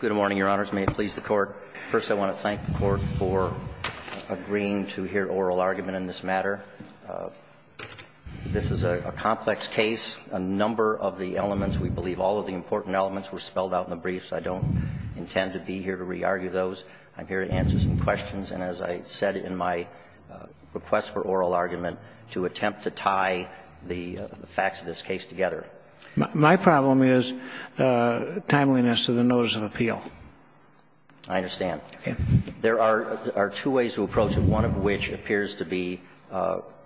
Good morning, Your Honors. May it please the Court. First, I want to thank the Court for agreeing to hear oral argument in this matter. This is a complex case. A number of the elements, we believe all of the important elements were spelled out in the briefs. I don't intend to be here to re-argue those. I'm here to answer some questions. And as I said in my request for oral argument, to attempt to tie the facts of this case together. My problem is timeliness of the notice of appeal. I understand. Okay. There are two ways to approach it, one of which appears to be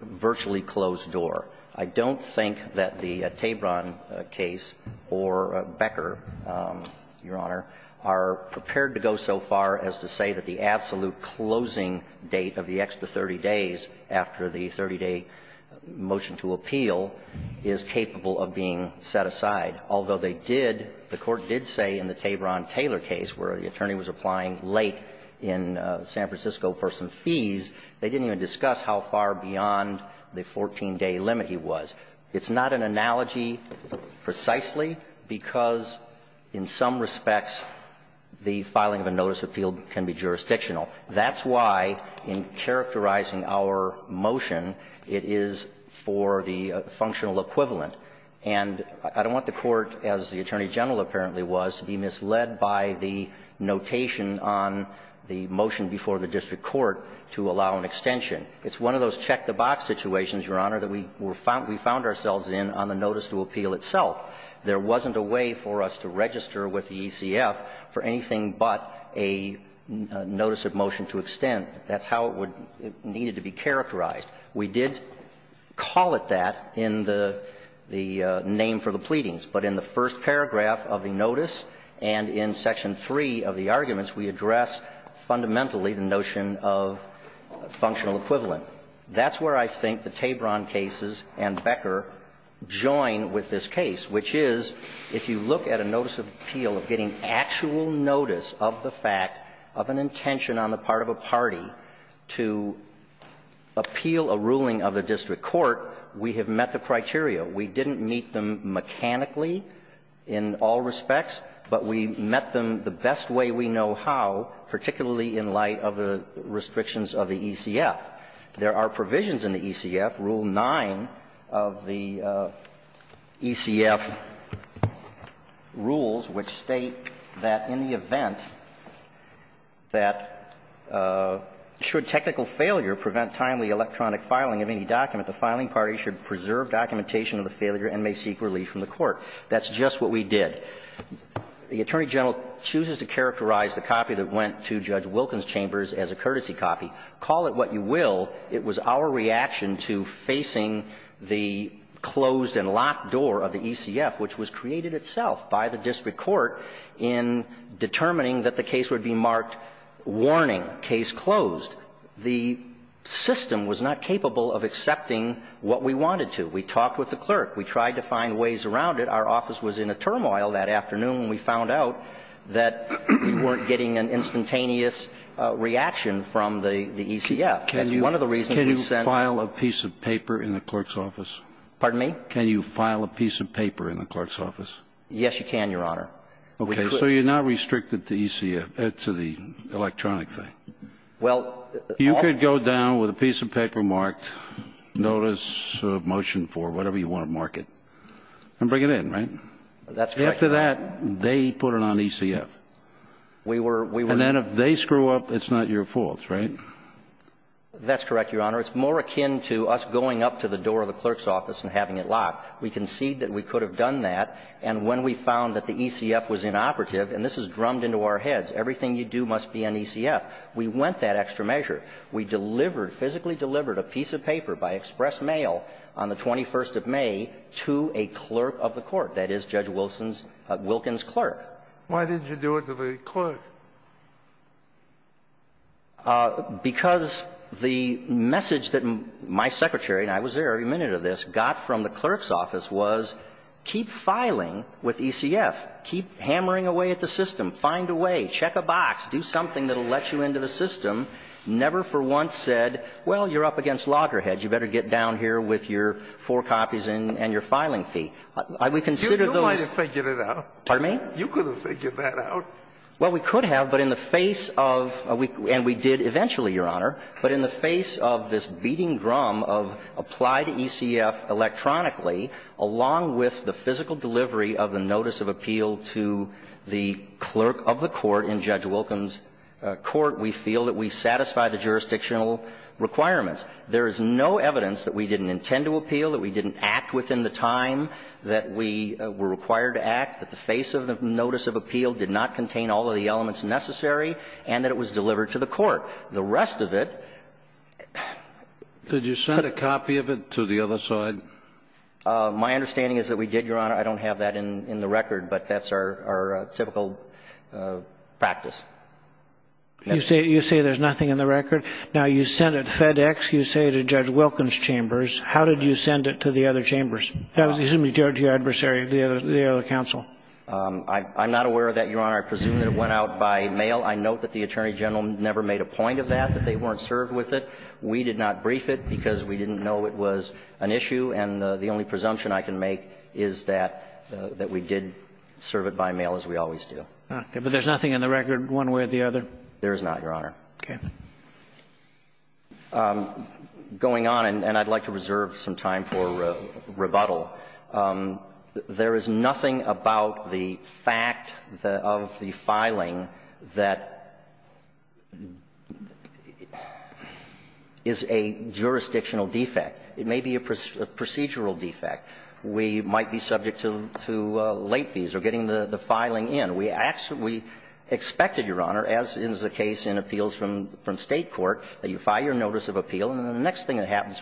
virtually closed door. I don't think that the Tabron case or Becker, Your Honor, are prepared to go so far as to say that the absolute closing date of the extra 30 days after the 30-day motion to appeal is capable of being set aside. Although they did, the Court did say in the Tabron-Taylor case where the attorney was applying late in San Francisco for some fees, they didn't even discuss how far beyond the 14-day limit he was. It's not an analogy precisely because in some respects the filing of a notice of appeal can be jurisdictional. That's why in characterizing our motion, it is for the functional equivalent. And I don't want the Court, as the Attorney General apparently was, to be misled by the notation on the motion before the district court to allow an extension. It's one of those check-the-box situations, Your Honor, that we found ourselves in on the notice to appeal itself. There wasn't a way for us to register with the ECF for anything but a notice of motion to extend. That's how it would need to be characterized. We did call it that in the name for the pleadings, but in the first paragraph of the notice and in section 3 of the arguments, we address fundamentally the notion of functional equivalent. That's where I think the Tabron cases and Becker join with this case, which is if you look at a notice of appeal of getting actual notice of the fact of an intention on the part of a party to appeal a ruling of a district court, we have met the criteria. We didn't meet them mechanically in all respects, but we met them the best way we know how, particularly in light of the restrictions of the ECF. There are provisions in the ECF, Rule 9 of the ECF rules, which state that in the event that should technical failure prevent timely electronic filing of any document, the filing party should preserve documentation of the failure and may seek relief from the court. That's just what we did. The Attorney General chooses to characterize the copy that went to Judge Wilken's chambers as a courtesy copy. Call it what you will, it was our reaction to facing the closed and locked door of the ECF, which was created itself by the district court in determining that the case would be marked, warning, case closed. The system was not capable of accepting what we wanted to. We talked with the clerk. We tried to find ways around it. Our office was in a turmoil that afternoon when we found out that we weren't getting an instantaneous reaction from the ECF. That's one of the reasons we sent the clerk. Can you file a piece of paper in the clerk's office? Pardon me? Can you file a piece of paper in the clerk's office? Yes, you can, Your Honor. Okay. So you're not restricted to the ECF, to the electronic thing. Well, all the things. You could go down with a piece of paper marked, notice of motion for whatever you want to mark it, and bring it in, right? That's correct, Your Honor. After that, they put it on ECF. We were, we were. And then if they screw up, it's not your fault, right? That's correct, Your Honor. It's more akin to us going up to the door of the clerk's office and having it locked. We conceded that we could have done that. And when we found that the ECF was inoperative, and this is drummed into our heads, everything you do must be on ECF, we went that extra measure. We delivered, physically delivered, a piece of paper by express mail on the 21st of May to a clerk of the court. That is Judge Wilson's, Wilkins' clerk. Why didn't you do it to the clerk? Because the message that my secretary, and I was there every minute of this, got from the clerk's office was keep filing with ECF. Keep hammering away at the system. Find a way. Check a box. Do something that will let you into the system. Never for once said, well, you're up against loggerheads. You better get down here with your four copies and your filing fee. We considered those. You might have figured it out. Pardon me? You could have figured that out. Well, we could have, but in the face of, and we did eventually, Your Honor, but in we feel that we satisfy the jurisdictional requirements. There is no evidence that we didn't intend to appeal, that we didn't act within the time that we were required to act, that the face of the notice of appeal did not contain all of the elements necessary, and that it was delivered to the court. The rest of it ---- Could you send a copy of it to the other side? My understanding is that we did, Your Honor. I don't have that in the record, but that's our typical practice. You say there's nothing in the record. Now, you sent it to FedEx. You say it to Judge Wilkins' chambers. How did you send it to the other chambers? You said you sent it to your adversary, the other counsel. I'm not aware of that, Your Honor. I presume that it went out by mail. I note that the Attorney General never made a point of that, that they weren't served with it. We did not brief it because we didn't know it was an issue, and the only presumption I can make is that we did serve it by mail, as we always do. But there's nothing in the record one way or the other? There is not, Your Honor. Okay. Going on, and I'd like to reserve some time for rebuttal. There is nothing about the fact of the filing that is a jurisdictional defect. It may be a procedural defect. We might be subject to late fees or getting the filing in. We actually expected, Your Honor, as is the case in appeals from State court, that you file your notice of appeal, and then the next thing that happens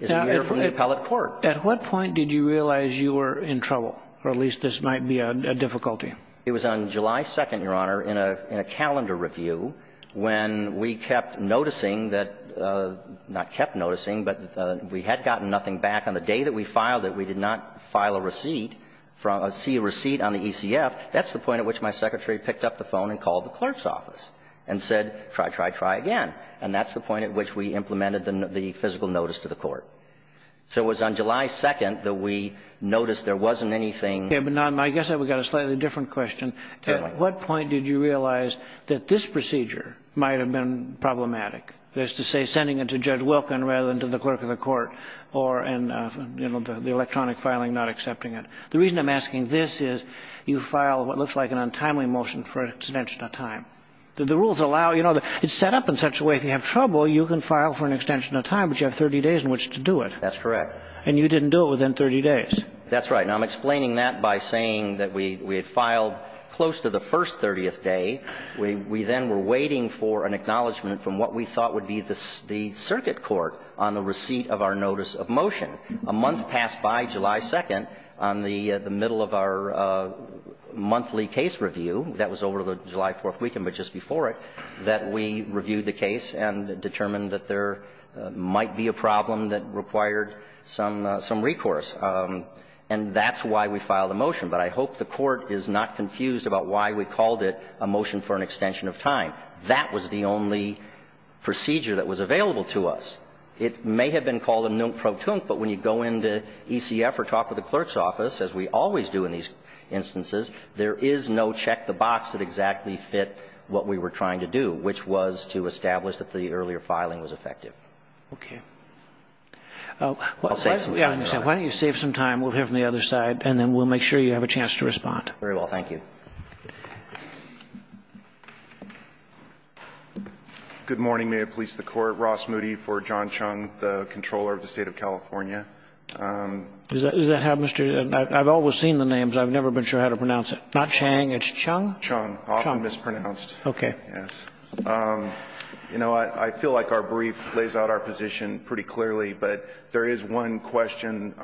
is you hear from the appellate court. Now, at what point did you realize you were in trouble, or at least this might be a difficulty? It was on July 2nd, Your Honor, in a calendar review, when we kept noticing that, not kept noticing, but we had gotten nothing back on the day that we filed it. We did not file a receipt, see a receipt on the ECF. That's the point at which my secretary picked up the phone and called the clerk's office and said, try, try, try again. And that's the point at which we implemented the physical notice to the court. So it was on July 2nd that we noticed there wasn't anything. Okay. But now I guess I've got a slightly different question. Tell me. At what point did you realize that this procedure might have been problematic, as to say sending it to Judge Wilkin rather than to the clerk of the court, or in the electronic filing not accepting it? The reason I'm asking this is you file what looks like an untimely motion for an extension of time. The rules allow, you know, it's set up in such a way that if you have trouble, you can file for an extension of time, but you have 30 days in which to do it. That's correct. And you didn't do it within 30 days. That's right. Now, I'm explaining that by saying that we had filed close to the first 30th day. We then were waiting for an acknowledgment from what we thought would be the circuit court on the receipt of our notice of motion. A month passed by, July 2nd, on the middle of our monthly case review. That was over the July 4th weekend, but just before it, that we reviewed the case and determined that there might be a problem that required some recourse. And that's why we filed the motion. But I hope the Court is not confused about why we called it a motion for an extension of time. That was the only procedure that was available to us. It may have been called a non-protunct, but when you go into ECF or talk with the clerk's office, as we always do in these instances, there is no check the box that exactly fit what we were trying to do, which was to establish that the earlier filing was effective. Okay. Why don't you save some time. We'll hear from the other side, and then we'll make sure you have a chance to respond. Thank you. Good morning. May it please the Court. Ross Moody for John Chung, the Comptroller of the State of California. Is that how Mr. ---- I've always seen the names. I've never been sure how to pronounce it. Not Chang. It's Chung? Chung. Often mispronounced. Okay. Yes. You know, I feel like our brief lays out our position pretty clearly. But there is one question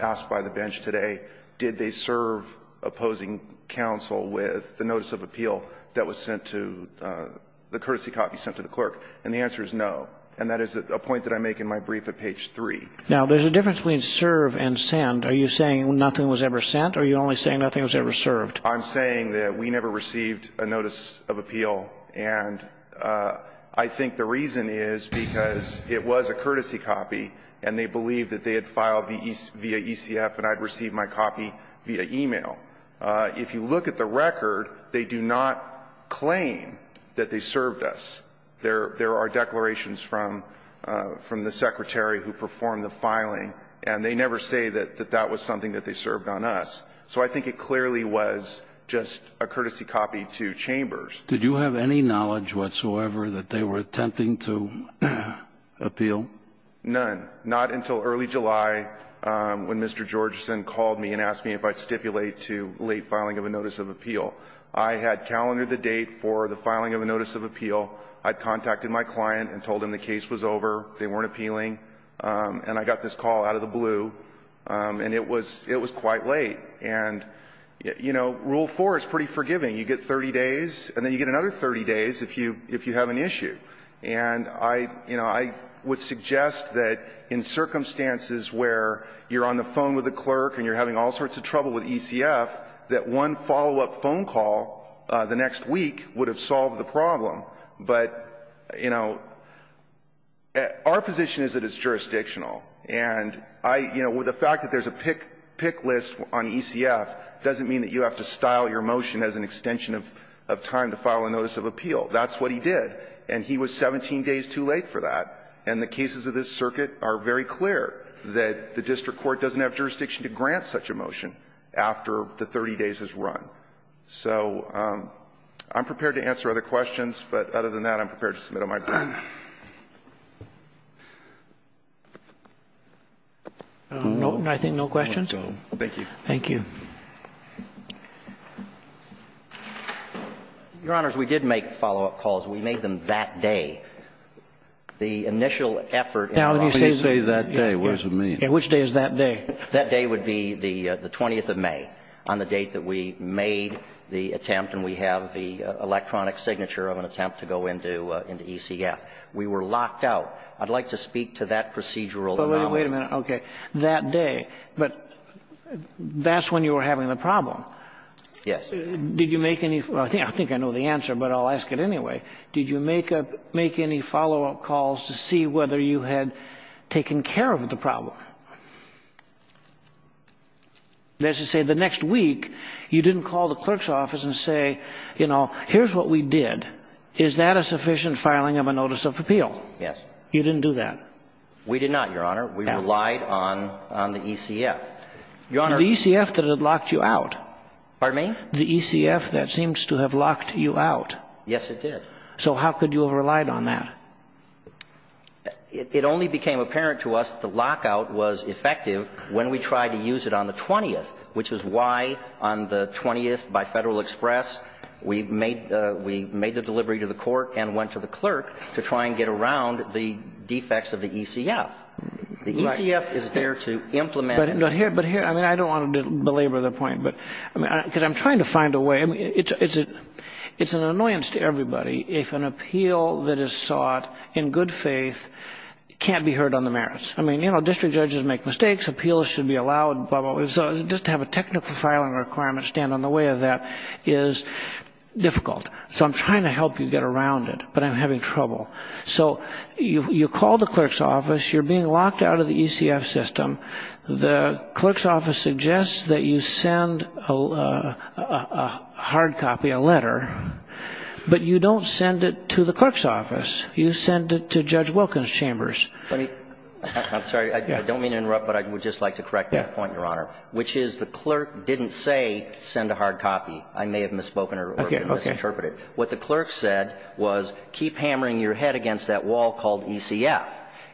asked by the bench today. Did they serve opposing counsel with the notice of appeal that was sent to the courtesy copy sent to the clerk? And the answer is no. And that is a point that I make in my brief at page 3. Now, there's a difference between serve and send. Are you saying nothing was ever sent, or are you only saying nothing was ever served? I'm saying that we never received a notice of appeal. And I think the reason is because it was a courtesy copy, and they believed that they had filed via ECF and I had received my copy via e-mail. If you look at the record, they do not claim that they served us. There are declarations from the secretary who performed the filing, and they never say that that was something that they served on us. So I think it clearly was just a courtesy copy to Chambers. Did you have any knowledge whatsoever that they were attempting to appeal? None. Not until early July when Mr. Georgeson called me and asked me if I would stipulate to late filing of a notice of appeal. I had calendared the date for the filing of a notice of appeal. I had contacted my client and told him the case was over. They weren't appealing. And I got this call out of the blue, and it was quite late. And, you know, Rule 4 is pretty forgiving. You get 30 days, and then you get another 30 days if you have an issue. And I, you know, I would suggest that in circumstances where you're on the phone with a clerk and you're having all sorts of trouble with ECF, that one follow-up phone call the next week would have solved the problem. But, you know, our position is that it's jurisdictional. And I, you know, the fact that there's a pick list on ECF doesn't mean that you have to style your motion as an extension of time to file a notice of appeal. That's what he did. And he was 17 days too late for that. And the cases of this circuit are very clear that the district court doesn't have jurisdiction to grant such a motion after the 30 days has run. So I'm prepared to answer other questions. But other than that, I'm prepared to submit on my behalf. Roberts. No, I think no questions. Thank you. Thank you. Your Honors, we did make follow-up calls. We made them that day. The initial effort in our office to say that day, what does it mean? Which day is that day? That day would be the 20th of May, on the date that we made the attempt and we have the electronic signature of an attempt to go into ECF. We were locked out. I'd like to speak to that procedural anomaly. But wait a minute. That day. But that's when you were having the problem. Yes. Did you make any? I think I know the answer, but I'll ask it anyway. Did you make any follow-up calls to see whether you had taken care of the problem? As you say, the next week, you didn't call the clerk's office and say, you know, here's what we did. Is that a sufficient filing of a notice of appeal? Yes. You didn't do that. We did not, Your Honor. We relied on the ECF. Your Honor. The ECF that had locked you out. Pardon me? The ECF that seems to have locked you out. Yes, it did. So how could you have relied on that? It only became apparent to us the lockout was effective when we tried to use it on the 20th, which is why on the 20th by Federal Express we made the delivery to the court and went to the clerk to try and get around the defects of the ECF. The ECF is there to implement. I don't want to belabor the point because I'm trying to find a way. It's an annoyance to everybody if an appeal that is sought in good faith can't be heard on the merits. I mean, you know, district judges make mistakes. Appeals should be allowed, blah, blah, blah. So just to have a technical filing requirement stand in the way of that is difficult. So I'm trying to help you get around it, but I'm having trouble. So you call the clerk's office. You're being locked out of the ECF system. The clerk's office suggests that you send a hard copy, a letter, but you don't send it to the clerk's office. You send it to Judge Wilkins' chambers. I'm sorry. I don't mean to interrupt, but I would just like to correct that point, Your Honor, which is the clerk didn't say send a hard copy. I may have misspoken or misinterpreted. What the clerk said was keep hammering your head against that wall called ECF.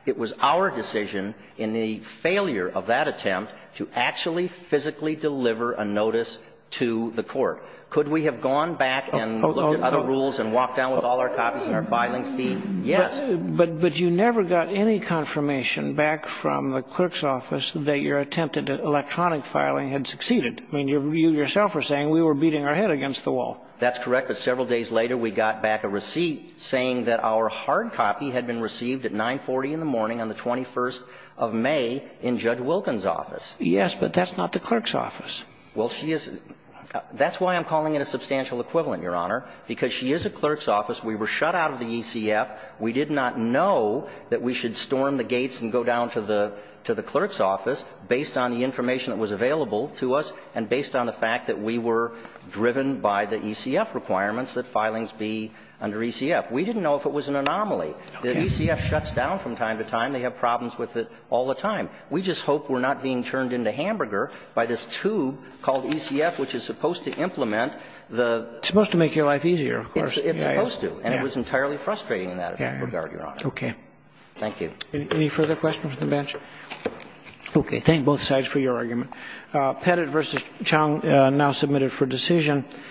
It was our decision in the failure of that attempt to actually physically deliver a notice to the court. Could we have gone back and looked at other rules and walked down with all our copies in our filing feed? Yes. But you never got any confirmation back from the clerk's office that your attempted electronic filing had succeeded. I mean, you yourself were saying we were beating our head against the wall. That's correct. But several days later, we got back a receipt saying that our hard copy had been received at 940 in the morning on the 21st of May in Judge Wilkins' office. Yes, but that's not the clerk's office. Well, she is – that's why I'm calling it a substantial equivalent, Your Honor, because she is a clerk's office. We were shut out of the ECF. We did not know that we should storm the gates and go down to the – to the clerk's office based on the information that was available to us and based on the fact that we were driven by the ECF requirements that filings be under ECF. We didn't know if it was an anomaly. The ECF shuts down from time to time. They have problems with it all the time. We just hope we're not being turned into hamburger by this tube called ECF, which is supposed to implement the – It's supposed to make your life easier, of course. It's supposed to. And it was entirely frustrating in that regard, Your Honor. Okay. Thank you. Any further questions from the bench? Okay. Thank both sides for your argument. Pettit v. Chung now submitted for decision.